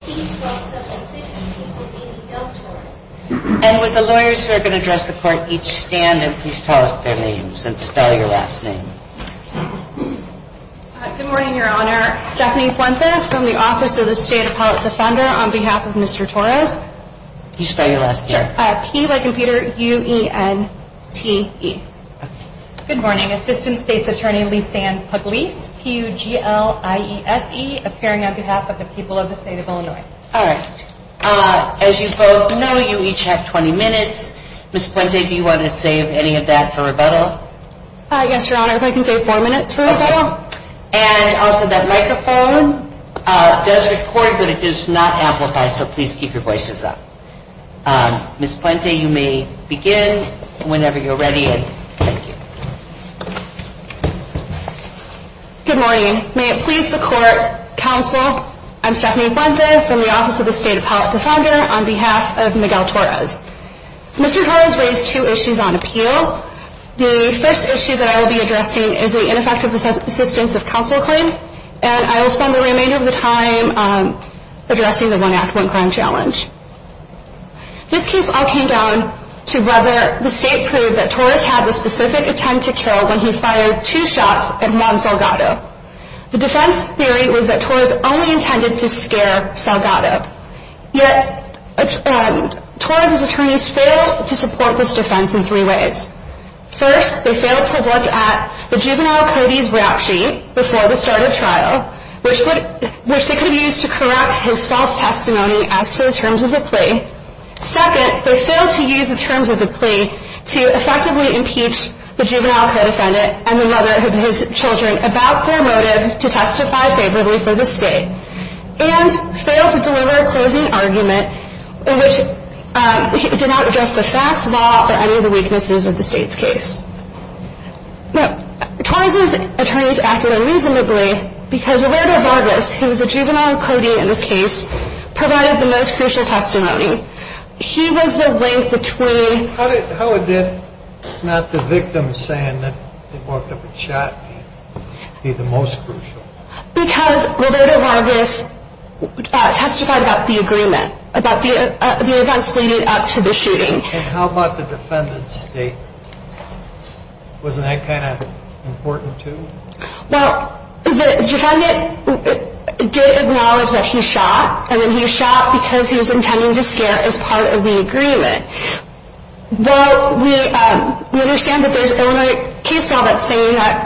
and with the lawyers who are going to address the court each stand and please tell us their names and spell your last name. Good morning, Your Honor. Stephanie Puente from the Office of the State Appellate Defender on behalf of Mr. Torres. Can you spell your last name? Sure. P-U-E-N-T-E. Good morning. Assistant State's Attorney Lisanne Pugliese, P-U-G-L-I-E-S-E, appearing on behalf of the people of the state of Illinois. As you both know, you each have 20 minutes. Ms. Puente, do you want to save any of that for rebuttal? Yes, Your Honor, if I can save four minutes for rebuttal. And also that microphone does record, but it does not amplify, so please keep your voices up. Ms. Puente, you may begin whenever you're ready. Good morning. May it please the court, counsel, I'm Stephanie Puente from the Office of the State Appellate Defender on behalf of Miguel Torres. Mr. Torres raised two issues on appeal. The first issue that I will be addressing is the ineffective assistance of counsel claim. And I will spend the remainder of the time addressing the one act, one crime challenge. This case all came down to whether the state proved that Torres had the specific intent to kill when he fired two shots at Juan Salgado. The defense theory was that Torres only intended to scare Salgado. Yet, Torres' attorneys failed to support this defense in three ways. First, they failed to look at the juvenile Cody's rap sheet before the start of trial, which they could have used to correct his false testimony as to the terms of the plea. Second, they failed to use the terms of the plea to effectively impeach the juvenile co-defendant and the mother of his children about their motive to testify favorably for the state. And, failed to deliver a closing argument in which it did not address the facts, law, or any of the weaknesses of the state's case. Now, Torres' attorneys acted unreasonably because Roberto Vargas, who was the juvenile co-defendant in this case, provided the most crucial testimony. He was the link between... How did not the victim saying that they walked up and shot be the most crucial? Because Roberto Vargas testified about the agreement, about the events leading up to the shooting. And how about the defendant's statement? Wasn't that kind of important too? Well, the defendant did acknowledge that he shot, and that he shot because he was intending to scare as part of the agreement. While we understand that there's only a case file that's saying that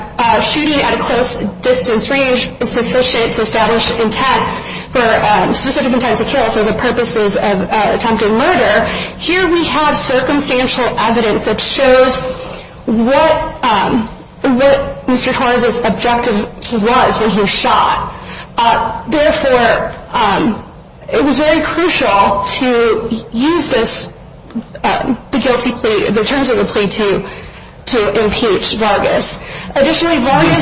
shooting at a close distance range is sufficient to establish intent, for a specific intent to kill for the purposes of attempted murder, here we have circumstantial evidence that shows what Mr. Torres' objective was when he was shot. Therefore, it was very crucial to use the guilty plea, the terms of the plea, to impeach Vargas. The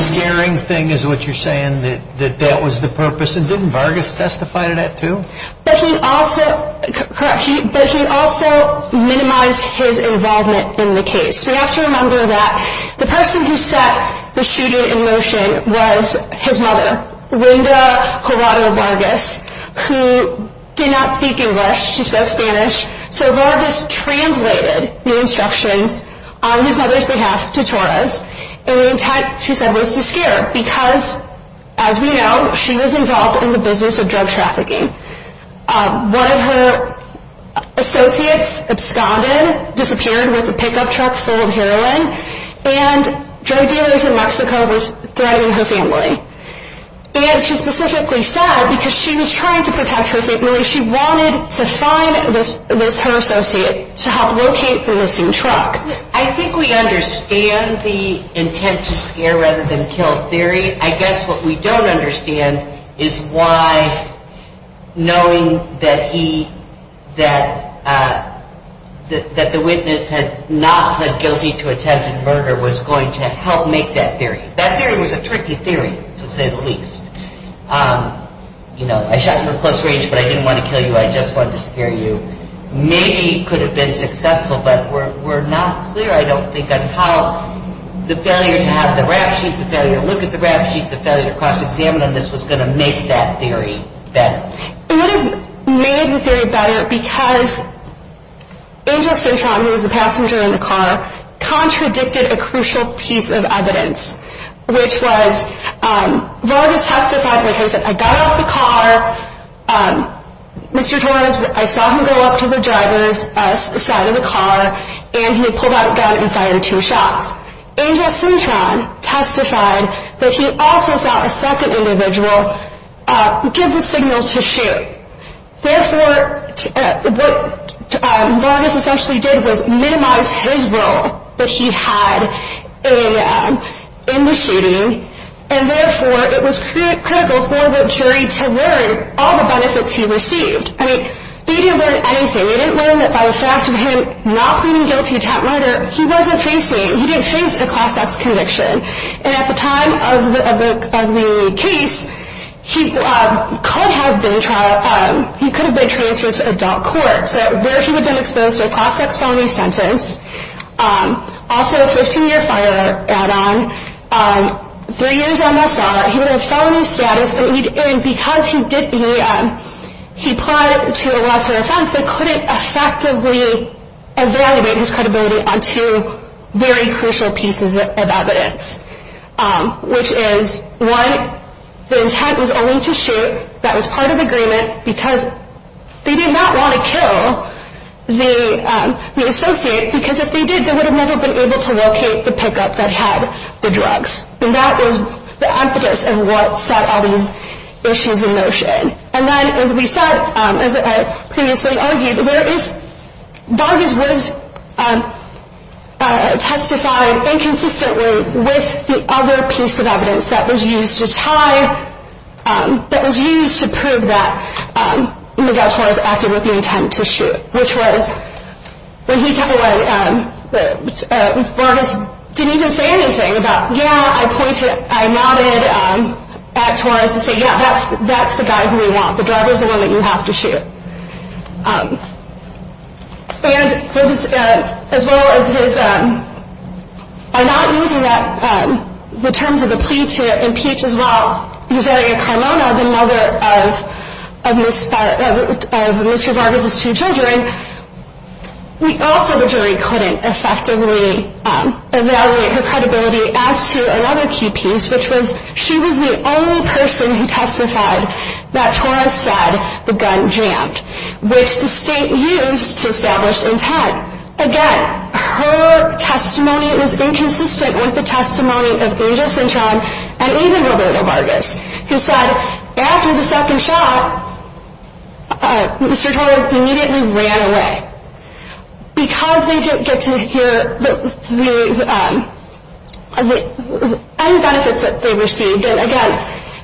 scaring thing is what you're saying, that that was the purpose, and didn't Vargas testify to that too? But he also minimized his involvement in the case. We have to remember that the person who set the shooting in motion was his mother, Linda Gerardo Vargas, who did not speak English, she spoke Spanish. So Vargas translated the instructions on his mother's behalf to Torres, and the intent, she said, was to scare. Because, as we know, she was involved in the business of drug trafficking. One of her associates, absconded, disappeared with a pickup truck full of heroin, and drug dealers in Mexico were threatening her family. And she specifically said, because she was trying to protect her family, she wanted to find, with her associate, to help locate the missing truck. I think we understand the intent to scare rather than kill theory. I guess what we don't understand is why, knowing that he, that the witness had not pled guilty to attempted murder, was going to help make that theory. That theory was a tricky theory, to say the least. You know, I shot you in close range, but I didn't want to kill you, I just wanted to scare you. Maybe it could have been successful, but we're not clear, I don't think, on how the failure to have the rap sheet, the failure to look at the rap sheet, the failure to cross-examine on this, was going to make that theory better. It would have made the theory better because Angel Sertran, who was the passenger in the car, contradicted a crucial piece of evidence, which was Vargas testified that he said, I got out of the car, Mr. Torres, I saw him go up to the driver's side of the car, and he had pulled out a gun and fired two shots. Angel Sertran testified that he also saw a second individual give the signal to shoot. Therefore, what Vargas essentially did was minimize his role that he had in the shooting, and therefore it was critical for the jury to learn all the benefits he received. I mean, they didn't learn anything. They didn't learn that by the fact of him not pleading guilty to attempted murder, he wasn't facing, he didn't face a cross-ex conviction. And at the time of the case, he could have been transferred to adult court, where he would have been exposed to a cross-ex felony sentence, also a 15-year fire add-on, three years MSR, he would have felony status, and because he plied to a lesser offense, they couldn't effectively evaluate his credibility on two very crucial pieces of evidence, which is, one, the intent was only to shoot, that was part of the agreement, because they did not want to kill the associate, because if they did, they would have never been able to locate the pickup that had the drugs. And that was the impetus of what set all these issues in motion. And then, as we said, as I previously argued, Vargas was testified inconsistently with the other piece of evidence that was used to tie, that was used to prove that Miguel Torres acted with the intent to shoot, which was, when he took away, Vargas didn't even say anything about, yeah, I pointed, I nodded at Torres and said, yeah, that's the guy who we want, the drug is the one that you have to shoot. And as well as his, by not using that, the terms of the plea to impeach as well, Eusebio Carmona, the mother of Mr. Vargas' two children, we also, the jury couldn't effectively evaluate her credibility as to another key piece, which was she was the only person who testified that Torres said the gun jammed, which the state used to establish intent. Again, her testimony was inconsistent with the testimony of Angel Cintron and even Roberto Vargas, who said, after the second shot, Mr. Torres immediately ran away. Because they didn't get to hear any benefits that they received, and again,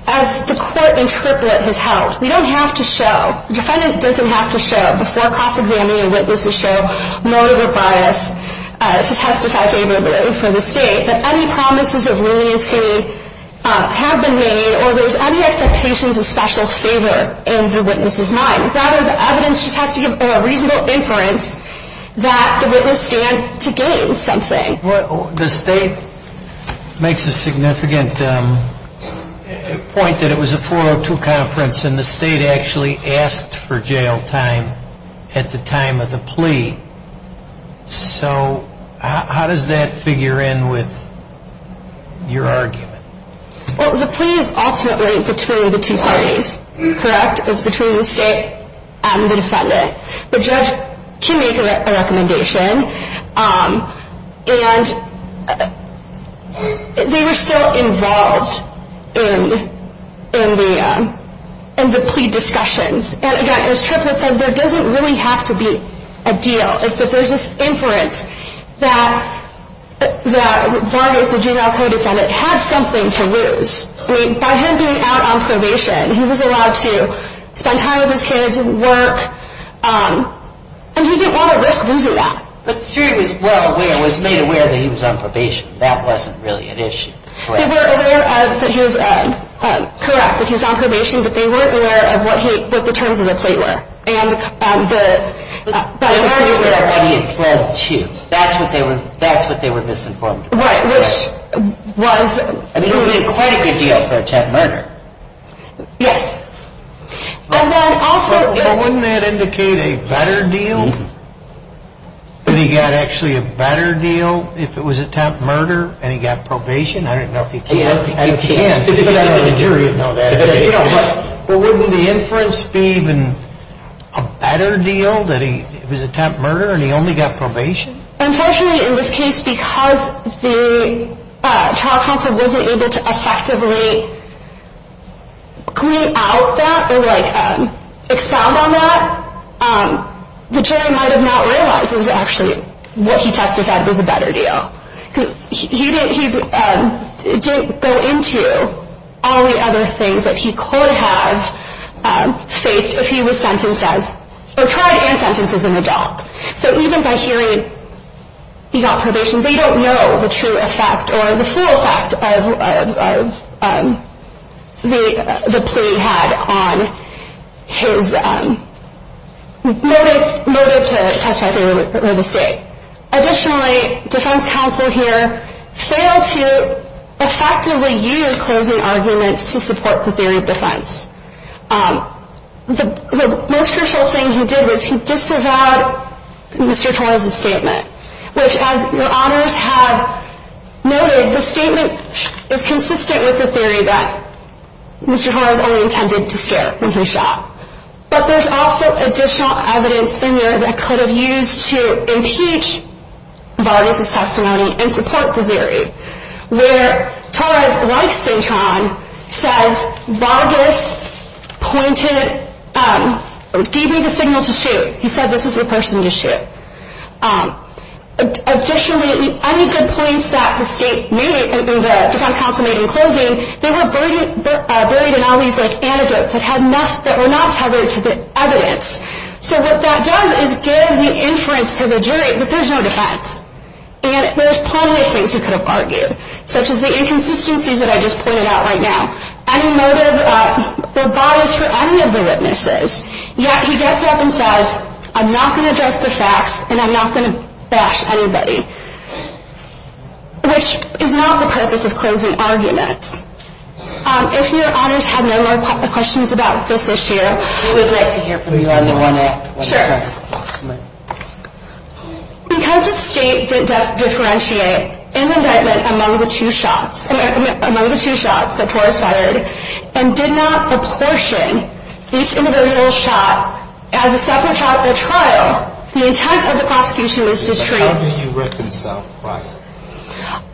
as the court interpret has held, we don't have to show, the defendant doesn't have to show before cross-examining and witnesses show motive or bias to testify favorably for the state, that any promises of leniency have been made or there's any expectations of special favor in the witness's mind. Rather, the evidence just has to give a reasonable inference that the witness stands to gain something. The state makes a significant point that it was a 402 conference and the state actually asked for jail time at the time of the plea. So, how does that figure in with your argument? Well, the plea is ultimately between the two parties, correct? It's between the state and the defendant. The judge can make a recommendation, and they were still involved in the plea discussions. And again, as Triplett said, there doesn't really have to be a deal. It's that there's this inference that Vargas, the juvenile co-defendant, had something to lose. I mean, by him being out on probation, he was allowed to spend time with his kids and work, and he didn't want to risk losing that. But he was well aware, was made aware that he was on probation. That wasn't really an issue. But they weren't aware of what the terms of the plea were. But Vargas was aware of what he had pled to. That's what they were misinformed about. Right, which was... I mean, he made quite a good deal for attempted murder. Yes. And then also... But wouldn't that indicate a better deal? That he got actually a better deal if it was attempted murder and he got probation? I don't know if he can. I don't think he can. The jury would know that. But would the inference be even a better deal that it was attempted murder and he only got probation? Unfortunately, in this case, because the trial counsel wasn't able to effectively clean out that or expound on that, the jury might have not realized it was actually what he testified was a better deal. Because he didn't go into all the other things that he could have faced if he was sentenced as... or tried and sentenced as an adult. So even by hearing he got probation, they don't know the true effect or the full effect of the plea he had on his... murder to testify for real estate. Additionally, defense counsel here failed to effectively use closing arguments to support the theory of defense. The most crucial thing he did was he disavowed Mr. Torres' statement. Which, as your honors have noted, the statement is consistent with the theory that Mr. Torres only intended to scare when he shot. But there's also additional evidence in there that could have used to impeach Vargas' testimony and support the theory. Where Torres, like St. John, says Vargas pointed... gave me the signal to shoot. He said this was the person to shoot. Additionally, any good points that the defense counsel made in closing, they were buried in all these anecdotes that were not tethered to the evidence. So what that does is give the inference to the jury that there's no defense. And there's plenty of things he could have argued. Such as the inconsistencies that I just pointed out right now. Any motive for bias for any of the witnesses. Yet he gets up and says, I'm not going to judge the facts and I'm not going to bash anybody. Which is not the purpose of closing arguments. If your honors have no more questions about this issue, we would like to hear from you. Because the state did differentiate in indictment among the two shots that Torres fired, and did not apportion each individual shot as a separate shot at the trial, So the intent of the prosecution was to treat... How do you reconcile prior?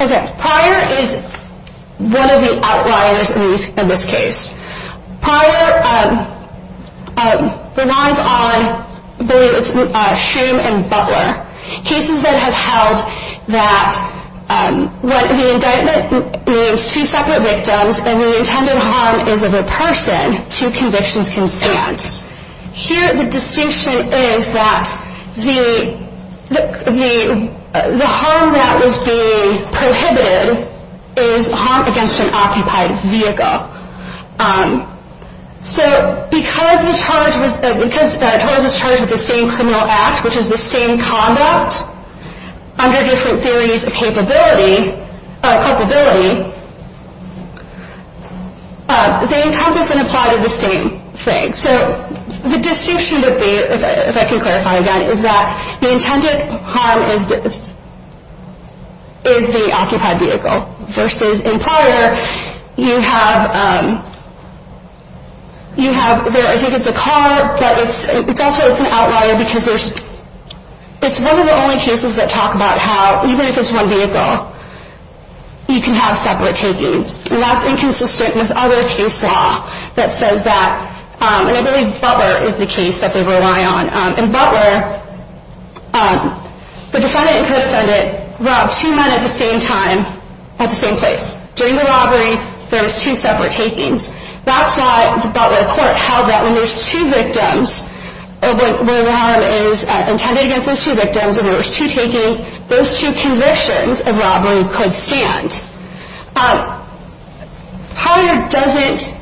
Okay, prior is one of the outliers in this case. Prior relies on, I believe it's shame and butler. Cases that have held that when the indictment names two separate victims, and the intended harm is of a person, two convictions can stand. Here the distinction is that the harm that was being prohibited is harm against an occupied vehicle. So because Torres was charged with the same criminal act, which is the same conduct, under different theories of capability, they encompass and apply to the same thing. So the distinction would be, if I can clarify again, is that the intended harm is the occupied vehicle. Versus in prior, you have, I think it's a car, but it's also an outlier, because it's one of the only cases that talk about how even if it's one vehicle, you can have separate takings. And that's inconsistent with other case law that says that, and I believe butler is the case that they rely on. In butler, the defendant and co-defendant robbed two men at the same time, at the same place. During the robbery, there was two separate takings. That's why the butler court held that when there's two victims, where the harm is intended against those two victims, and there was two takings, those two convictions of robbery could stand. Prior doesn't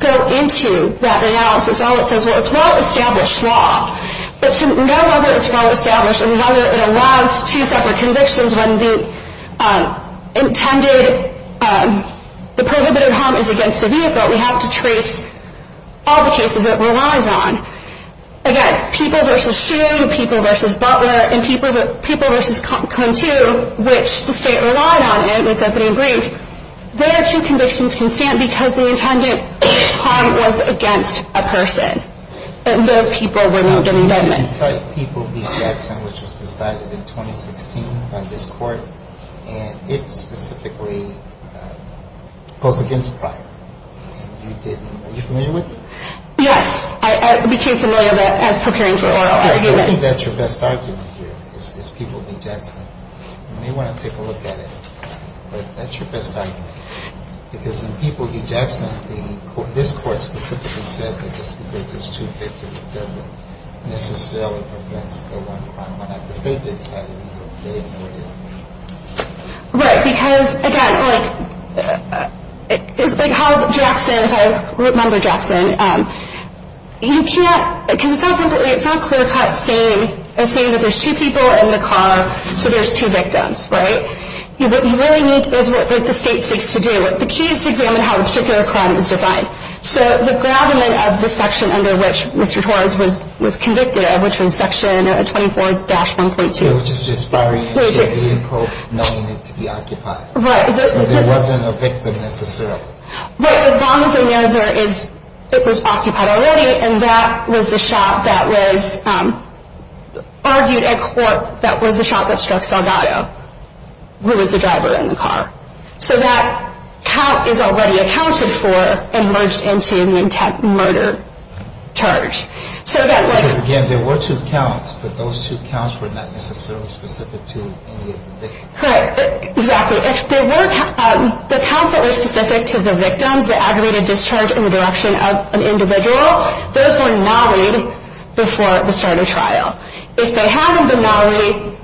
go into that analysis. All it says, well, it's well-established law. But to know whether it's well-established and whether it allows two separate convictions when the intended, the prohibited harm is against a vehicle, we have to trace all the cases it relies on. Again, people versus shooting, people versus butler, and people versus Cone 2, which the state relied on in its opening brief, their two convictions can stand because the intended harm was against a person, and those people were not getting dead men. Now, did you cite people v. Jackson, which was decided in 2016 by this court, and it specifically goes against prior? Are you familiar with it? Yes. I became familiar with it as preparing for oral argument. I think that's your best argument here, is people v. Jackson. You may want to take a look at it, but that's your best argument. Because in people v. Jackson, this court specifically said that just because there's two victims doesn't necessarily prevent the one crime. Why not the state decide it either way? Right. Because, again, it's like how Jackson, if I remember Jackson, you can't, because it's all clear-cut saying that there's two people in the car, so there's two victims, right? What you really need is what the state seeks to do. The key is to examine how the particular crime is defined. So the gravamen of the section under which Mr. Torres was convicted, which was Section 24-1.2. Which is just firing into a vehicle knowing it to be occupied. Right. So there wasn't a victim necessarily. Right. As long as they know it was occupied already, and that was the shot that was argued at court, that was the shot that struck Salgado, who was the driver in the car. So that count is already accounted for and merged into an intact murder charge. Because, again, there were two counts, but those two counts were not necessarily specific to any of the victims. Correct. Exactly. The counts that were specific to the victims, the aggravated discharge in the direction of an individual, those were nollied before the start of trial. If they hadn't been nollied,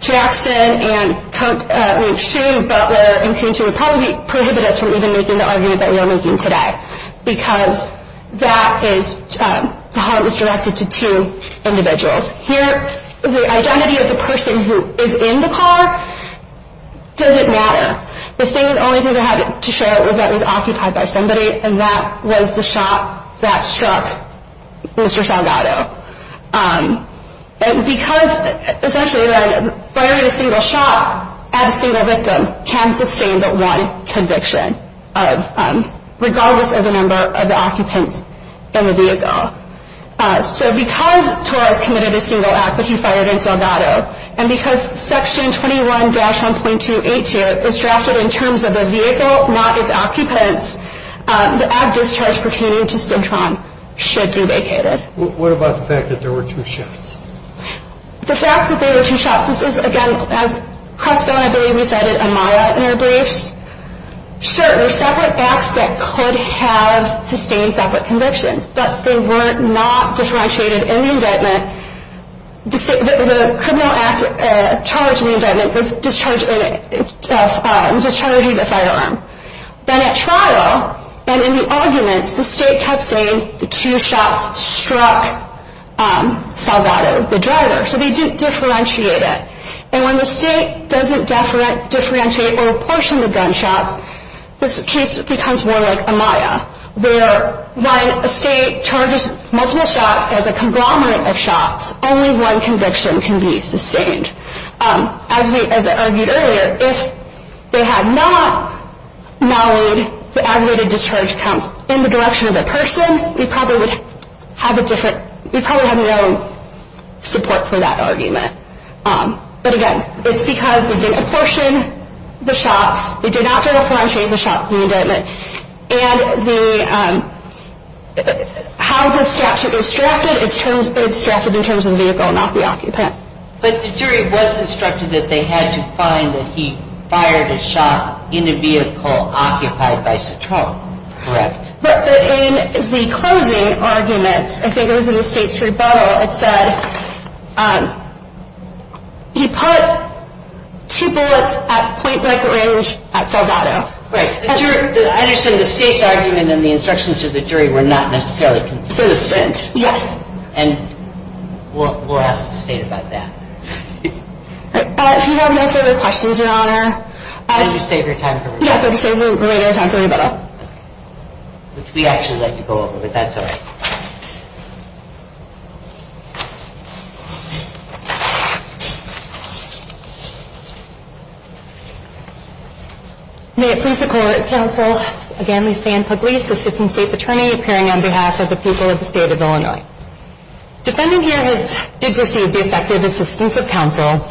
Jackson and Shue, Butler, and Kintu, would probably prohibit us from even making the argument that we are making today. Because that is how it was directed to two individuals. Here, the identity of the person who is in the car doesn't matter. The only thing they had to show was that it was occupied by somebody, and that was the shot that struck Mr. Salgado. Because, essentially, firing a single shot at a single victim can sustain but one conviction, regardless of the number of the occupants in the vehicle. So because Torres committed a single act, but he fired at Salgado, and because Section 21-1.282 is drafted in terms of the vehicle, not its occupants, the abdischarge pertaining to Cintron should be vacated. What about the fact that there were two shots? The fact that there were two shots, this is, again, as Crespo and I believe you cited Amara in their briefs, sure, there are separate facts that could have sustained separate convictions, but they were not differentiated in the indictment. The criminal act charged in the indictment was discharging the firearm. Then at trial, and in the arguments, the state kept saying the two shots struck Salgado, the driver. So they didn't differentiate it. And when the state doesn't differentiate or apportion the gunshots, this case becomes more like Amaya, where when a state charges multiple shots as a conglomerate of shots, only one conviction can be sustained. As I argued earlier, if they had not mollied the aggravated discharge counts in the direction of the person, we probably would have a different, we probably have no support for that argument. But again, it's because they didn't apportion the shots, they did not differentiate the shots in the indictment. And the, how the statute is drafted, it's drafted in terms of the vehicle, not the occupant. But the jury was instructed that they had to find that he fired a shot in a vehicle occupied by Cintron, correct? But in the closing arguments, I think it was in the state's rebuttal, it said he put two bullets at point-blank range at Salgado. Right. I understand the state's argument and the instructions to the jury were not necessarily consistent. Yes. And we'll ask the state about that. If you have no further questions, Your Honor. Did you save your time for rebuttal? Which we actually like to go over, but that's all right. May it please the court, counsel, again, Lysanne Pugliese, assistant state's attorney appearing on behalf of the people of the state of Illinois. Defending here has, did receive the effective assistance of counsel,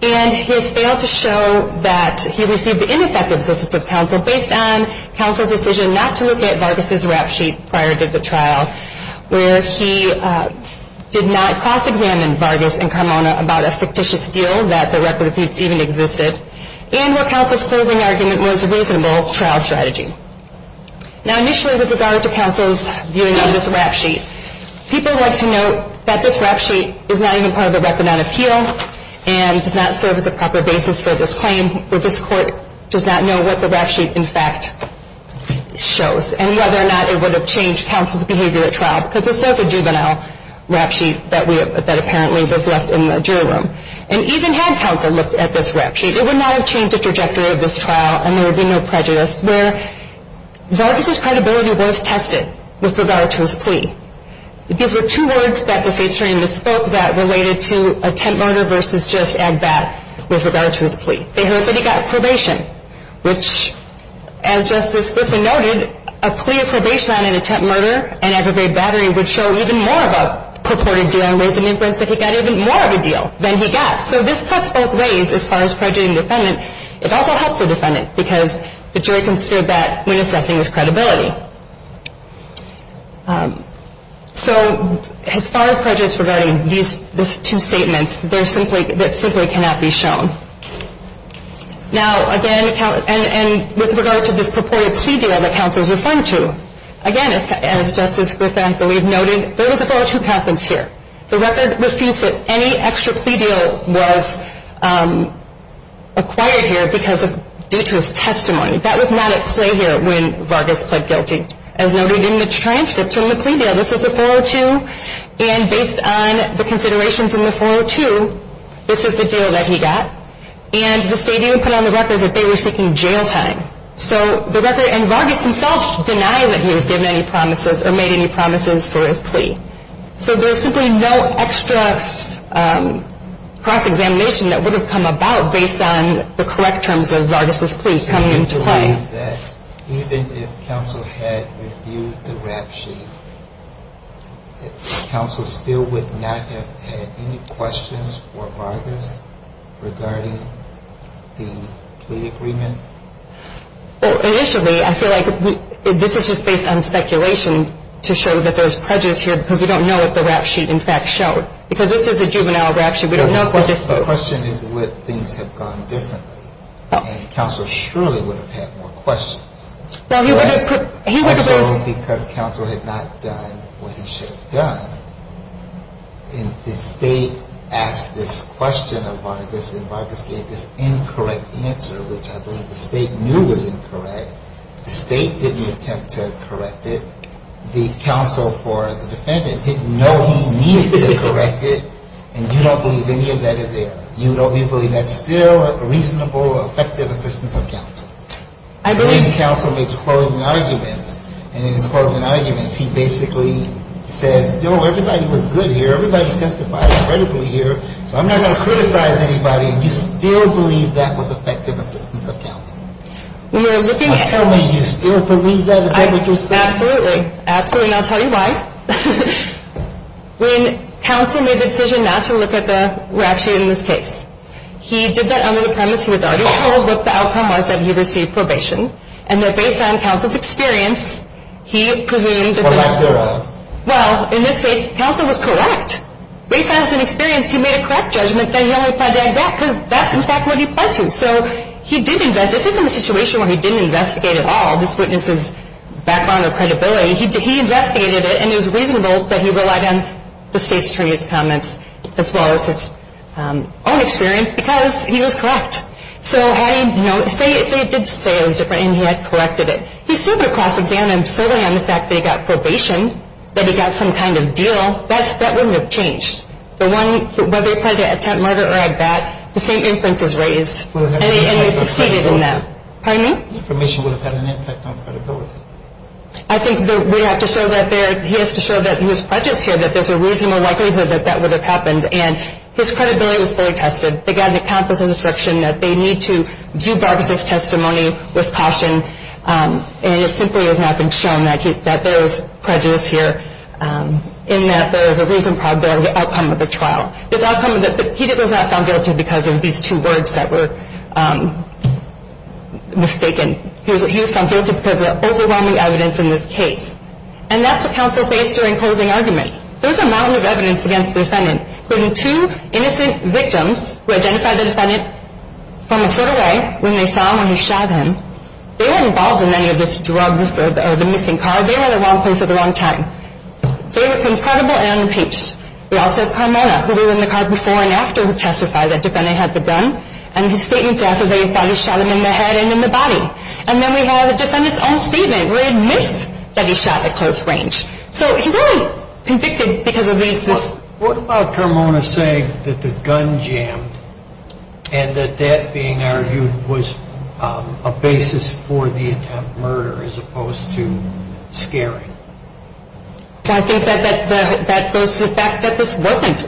and he has failed to show that he received the ineffective assistance of counsel based on counsel's decision not to look at Vargas' rap sheet prior to the trial, where he did not cross-examine Vargas and Kamona about a fictitious deal that the record even existed, and where counsel's closing argument was a reasonable trial strategy. Now, initially, with regard to counsel's viewing on this rap sheet, people like to note that this rap sheet is not even part of the record on appeal and does not serve as a proper basis for this claim, or this court does not know what the rap sheet in fact shows and whether or not it would have changed counsel's behavior at trial, because this was a juvenile rap sheet that apparently was left in the jury room. And even had counsel looked at this rap sheet, it would not have changed the trajectory of this trial and there would be no prejudice. Vargas' credibility was tested with regard to his plea. These were two words that the state's attorney misspoke that related to attempt murder versus just add that with regard to his plea. They heard that he got probation, which, as Justice Griffin noted, a plea of probation on an attempt murder and aggravated battery would show even more of a purported deal and raise an inference that he got even more of a deal than he got. So this cuts both ways as far as prejudging the defendant. It also helps the defendant because the jury considered that when assessing his credibility. So as far as prejudice regarding these two statements, that simply cannot be shown. Now, again, and with regard to this purported plea deal that counsel is referring to, again, as Justice Griffin noted, there was a vote of two patents here. The record refutes that any extra plea deal was acquired here due to his testimony. That was not at play here when Vargas pled guilty. As noted in the transcript from the plea deal, this was a 402, and based on the considerations in the 402, this is the deal that he got. And the state even put on the record that they were seeking jail time. So the record, and Vargas himself denied that he was given any promises or made any promises for his plea. So there's simply no extra cross-examination that would have come about based on the correct terms of Vargas' plea coming into play. I believe that even if counsel had reviewed the rap sheet, counsel still would not have had any questions for Vargas regarding the plea agreement? Well, initially, I feel like this is just based on speculation to show that there's prejudice here because we don't know what the rap sheet, in fact, showed. Because this is a juvenile rap sheet. We don't know if we're disposed. The question is would things have gone differently, and counsel surely would have had more questions. Actually, because counsel had not done what he should have done, and the state asked this question of Vargas, and Vargas gave this incorrect answer, which I believe the state knew was incorrect. The state didn't attempt to correct it. The counsel for the defendant didn't know he needed to correct it, and you don't believe any of that is error. You don't believe that's still a reasonable, effective assistance of counsel. I believe counsel makes closing arguments, and in his closing arguments, he basically says, you know, everybody was good here. Everybody testified incredibly here, so I'm not going to criticize anybody, and you still believe that was effective assistance of counsel. When you're looking at it. I'm telling you, you still believe that. Is that what you're saying? Absolutely. Absolutely, and I'll tell you why. When counsel made the decision not to look at the rap sheet in this case, he did that under the premise he was already told that the outcome was that he received probation, and that based on counsel's experience, he presumed that the rap sheet was correct. Well, in this case, counsel was correct. Based on his experience, he made a correct judgment that he only applied to add back, because that's, in fact, what he applied to. So he did investigate. This isn't a situation where he didn't investigate at all. This witness is background or credibility. He investigated it, and it was reasonable that he relied on the State's attorney's comments as well as his own experience, because he was correct. So how do you know? Say it did say it was different, and he had corrected it. He still would have cross-examined solely on the fact that he got probation, that he got some kind of deal. That wouldn't have changed. The one, whether he applied to attempt murder or add back, the same inference is raised. And it succeeded in that. Pardon me? Information would have had an impact on credibility. I think that we have to show that there, he has to show that he was prejudiced here, that there's a reasonable likelihood that that would have happened. And his credibility was fully tested. They got an accomplice's instruction that they need to view Barbara's testimony with caution. And it simply has not been shown that there was prejudice here, in that there is a reasonable probability of the outcome of the trial. This outcome, he was not found guilty because of these two words that were mistaken. He was found guilty because of the overwhelming evidence in this case. And that's what counsel faced during closing argument. There's a mountain of evidence against the defendant, including two innocent victims who identified the defendant from a foot away, when they saw him, when he shot him. They weren't involved in any of this drugs or the missing car. They were in the wrong place at the wrong time. They were confrontable and impeached. We also have Carmona, who was in the car before and after he testified that the defendant had the gun. And his statement after they had probably shot him in the head and in the body. And then we have the defendant's own statement where he admits that he shot at close range. So he's only convicted because of these two. What about Carmona saying that the gun jammed and that that being argued was a basis for the attempted murder as opposed to scaring? I think that that goes to the fact that this wasn't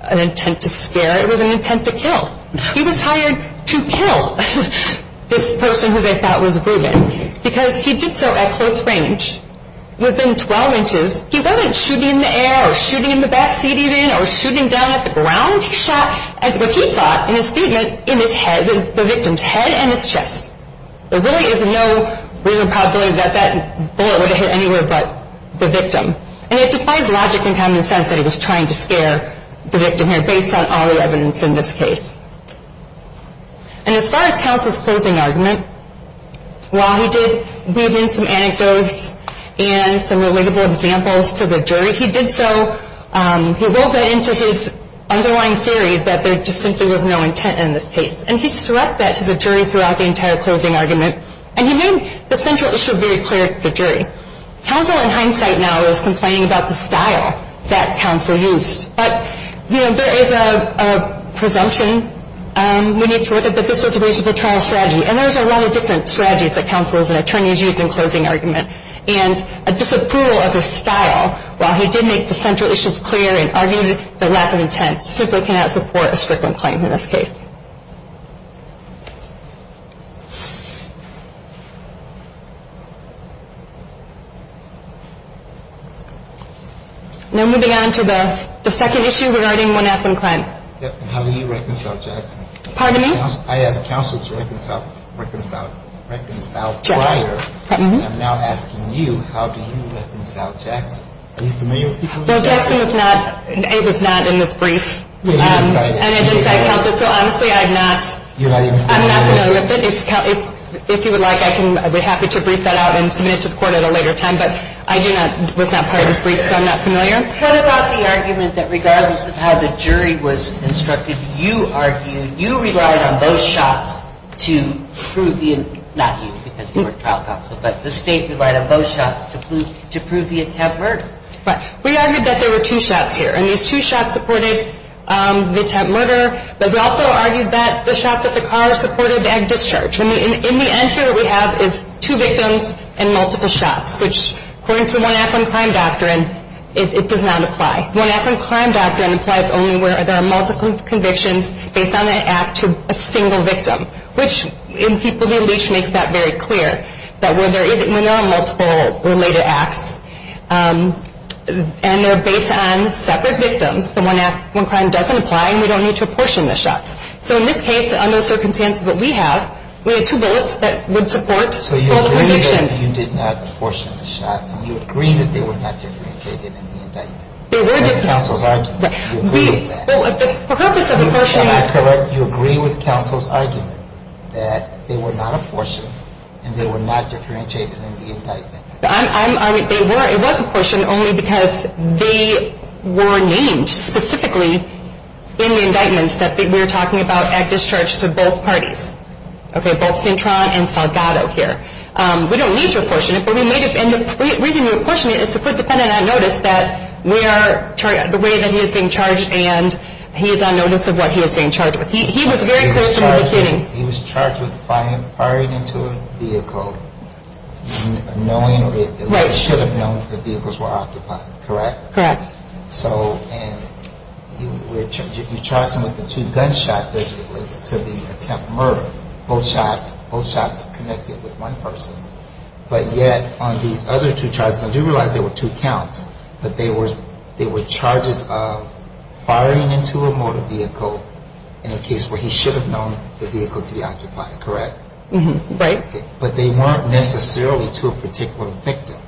an intent to scare. It was an intent to kill. He was hired to kill this person who they thought was Ruben because he did so at close range, within 12 inches. He wasn't shooting in the air or shooting in the backseat even or shooting down at the ground. He shot at what he thought in his statement in his head, the victim's head and his chest. There really is no reason probably that that bullet would have hit anywhere but the victim. And it defies logic and common sense that he was trying to scare the victim here based on all the evidence in this case. And as far as Counsel's closing argument, while he did weave in some anecdotes and some relatable examples to the jury, he did so, he rolled that into his underlying theory that there just simply was no intent in this case. And he stressed that to the jury throughout the entire closing argument. And he made the central issue very clear to the jury. Counsel in hindsight now is complaining about the style that Counsel used. But, you know, there is a presumption we need to look at that this was a reasonable trial strategy. And there's a lot of different strategies that Counsel as an attorney has used in closing argument. And a disapproval of his style, while he did make the central issues clear and argued the lack of intent, simply cannot support a strickland claim in this case. Now moving on to the second issue regarding 1F and crime. How do you reconcile Jackson? Pardon me? I asked Counsel to reconcile prior. And I'm now asking you, how do you reconcile Jackson? Are you familiar with people who reconcile Jackson? Well, Jackson is not, Abe is not in this brief. And I didn't cite Counsel. So honestly, I'm not familiar with it. If you would like, I would be happy to brief that out and submit it to the court at a later time. But I was not part of this brief, so I'm not familiar. What about the argument that regardless of how the jury was instructed, you argued, you relied on those shots to prove the, not you because you were trial counsel, but the State relied on those shots to prove the attempt murder? Right. We argued that there were two shots here. And these two shots supported the attempt murder, but we also argued that the shots at the car supported the act of discharge. In the end here, what we have is two victims and multiple shots, which according to 1F and crime doctrine, it does not apply. 1F and crime doctrine applies only where there are multiple convictions based on an act to a single victim, which in People v. Leach makes that very clear, that when there are multiple related acts and they're based on separate victims, the one act, one crime doesn't apply and we don't need to apportion the shots. So in this case, under the circumstances that we have, we had two bullets that would support both convictions. So you agree that you did not apportion the shots, and you agree that they were not differentiated in the indictment. They were differentiated. That's counsel's argument. You agree with that. The purpose of apportioning. You agree with counsel's argument that they were not apportioned and they were not differentiated in the indictment. It was apportioned only because they were named specifically in the indictments that we're talking about at discharge to both parties. Okay, both Cintron and Salgado here. We don't need to apportion it, but we may have, and the reason we're apportioning it is to put the defendant on notice that the way that he is being charged and he is on notice of what he is being charged with. He was very clear from the beginning. He was charged with firing into a vehicle knowing or at least should have known that the vehicles were occupied, correct? Correct. So you charged him with the two gunshots as it relates to the attempted murder. Both shots connected with one person. But yet on these other two charges, I do realize there were two counts, but they were charges of firing into a motor vehicle in a case where he should have known the vehicle to be occupied, correct? Right. But they weren't necessarily to a particular victim.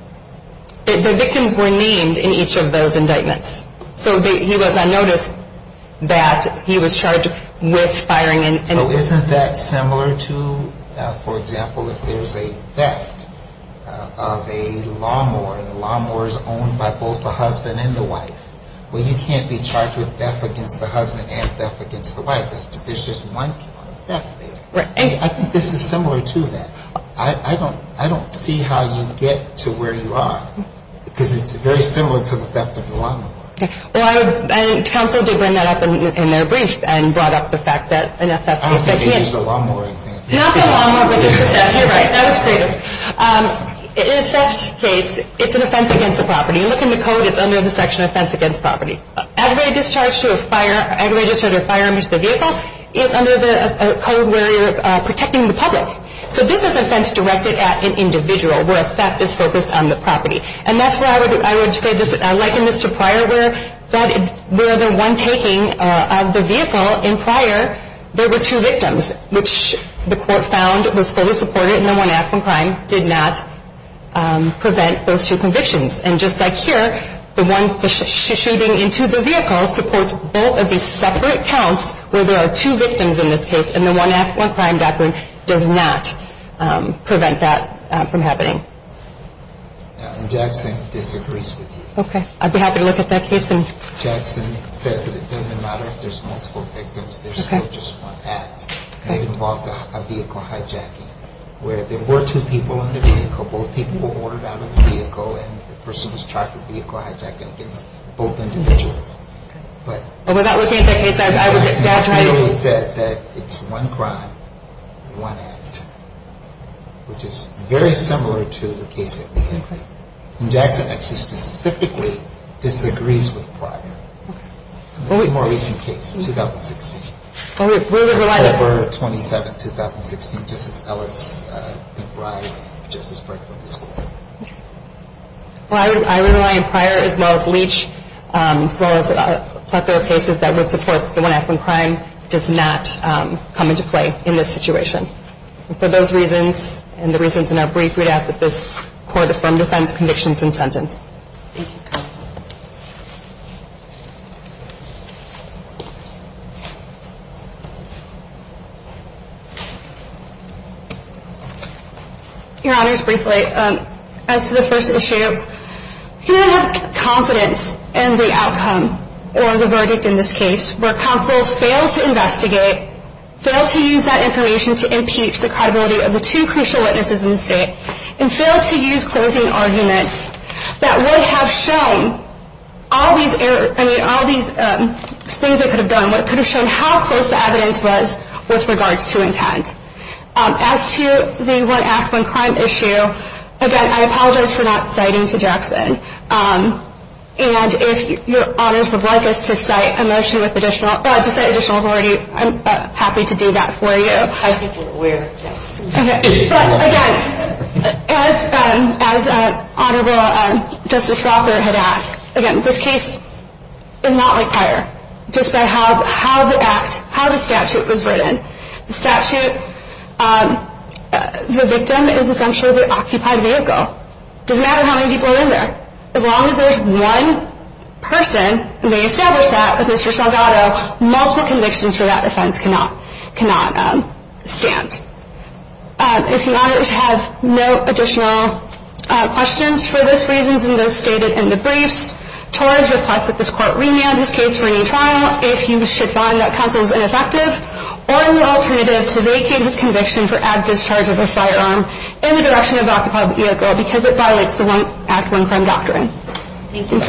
The victims were named in each of those indictments. So he was on notice that he was charged with firing into a vehicle. So isn't that similar to, for example, if there's a theft of a lawnmower and the lawnmower is owned by both the husband and the wife, well, you can't be charged with theft against the husband and theft against the wife. There's just one count of theft there. Right. I think this is similar to that. I don't see how you get to where you are because it's very similar to the theft of the lawnmower. Okay. Well, counsel did bring that up in their brief and brought up the fact that an theft of a lawnmower. I don't think they used a lawnmower example. Not the lawnmower, but just the theft. You're right. That was creative. In a theft case, it's an offense against the property. Look in the code. It's under the section offense against property. Aggravated discharge to a fire, aggravated discharge or a fire under the vehicle is under the code where you're protecting the public. So this is an offense directed at an individual where a theft is focused on the property. And that's where I would say this, like in Mr. Pryor, where the one taking of the vehicle in Pryor, there were two victims, which the court found was fully supported and the one acting on crime did not prevent those two convictions. And just like here, the one shooting into the vehicle supports both of these separate counts where there are two victims in this case and the one act on crime doctrine does not prevent that from happening. Jackson disagrees with you. Okay. I'd be happy to look at that case. Jackson says that it doesn't matter if there's multiple victims. There's still just one act. Okay. It involved a vehicle hijacking where there were two people in the vehicle. Both people were ordered out of the vehicle and the person was charged with vehicle hijacking against both individuals. Okay. And without looking at that case, I would just like to try to see. Jackson actually said that it's one crime, one act, which is very similar to the case that we have here. Okay. And Jackson actually specifically disagrees with Pryor. Okay. It's a more recent case, 2016. Okay. We're relying on Pryor. October 27, 2016, Justice Ellis McBride, Justice Brinkman, this court. Well, I would rely on Pryor as well as Leach as well as a plethora of cases that would support the one act, one crime does not come into play in this situation. And for those reasons and the reasons in our brief, we'd ask that this court affirm defense, convictions, and sentence. Thank you. Your Honors, briefly, as to the first issue, we don't have confidence in the outcome or the verdict in this case where counsels failed to investigate, failed to use that information to impeach the credibility of the two crucial witnesses in the state, and failed to use closing arguments that would have shown all these things that could have done, what could have shown how close the evidence was with regards to intent. As to the one act, one crime issue, again, I apologize for not citing to Jackson. And if your Honors would like us to cite a motion with additional, well, I just said additional authority, I'm happy to do that for you. I think we're aware of that. Okay. But again, as Honorable Justice Crawford had asked, again, this case is not like prior, just by how the act, how the statute was written. The statute, the victim is essentially the occupied vehicle. It doesn't matter how many people are in there. As long as there's one person who may establish that with Mr. Saldado, multiple convictions for that offense cannot stand. If your Honors have no additional questions for those reasons and those stated in the briefs, TOR has requested that this court remand this case for a new trial if you should find that counsel is ineffective, or an alternative to vacate his conviction for ad discharge of a firearm in the direction of the occupied vehicle because it violates the one act, one crime doctrine. Thank you.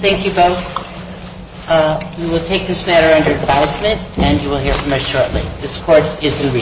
Thank you both. We will take this matter under advisement, and you will hear from us shortly. This Court is in recess.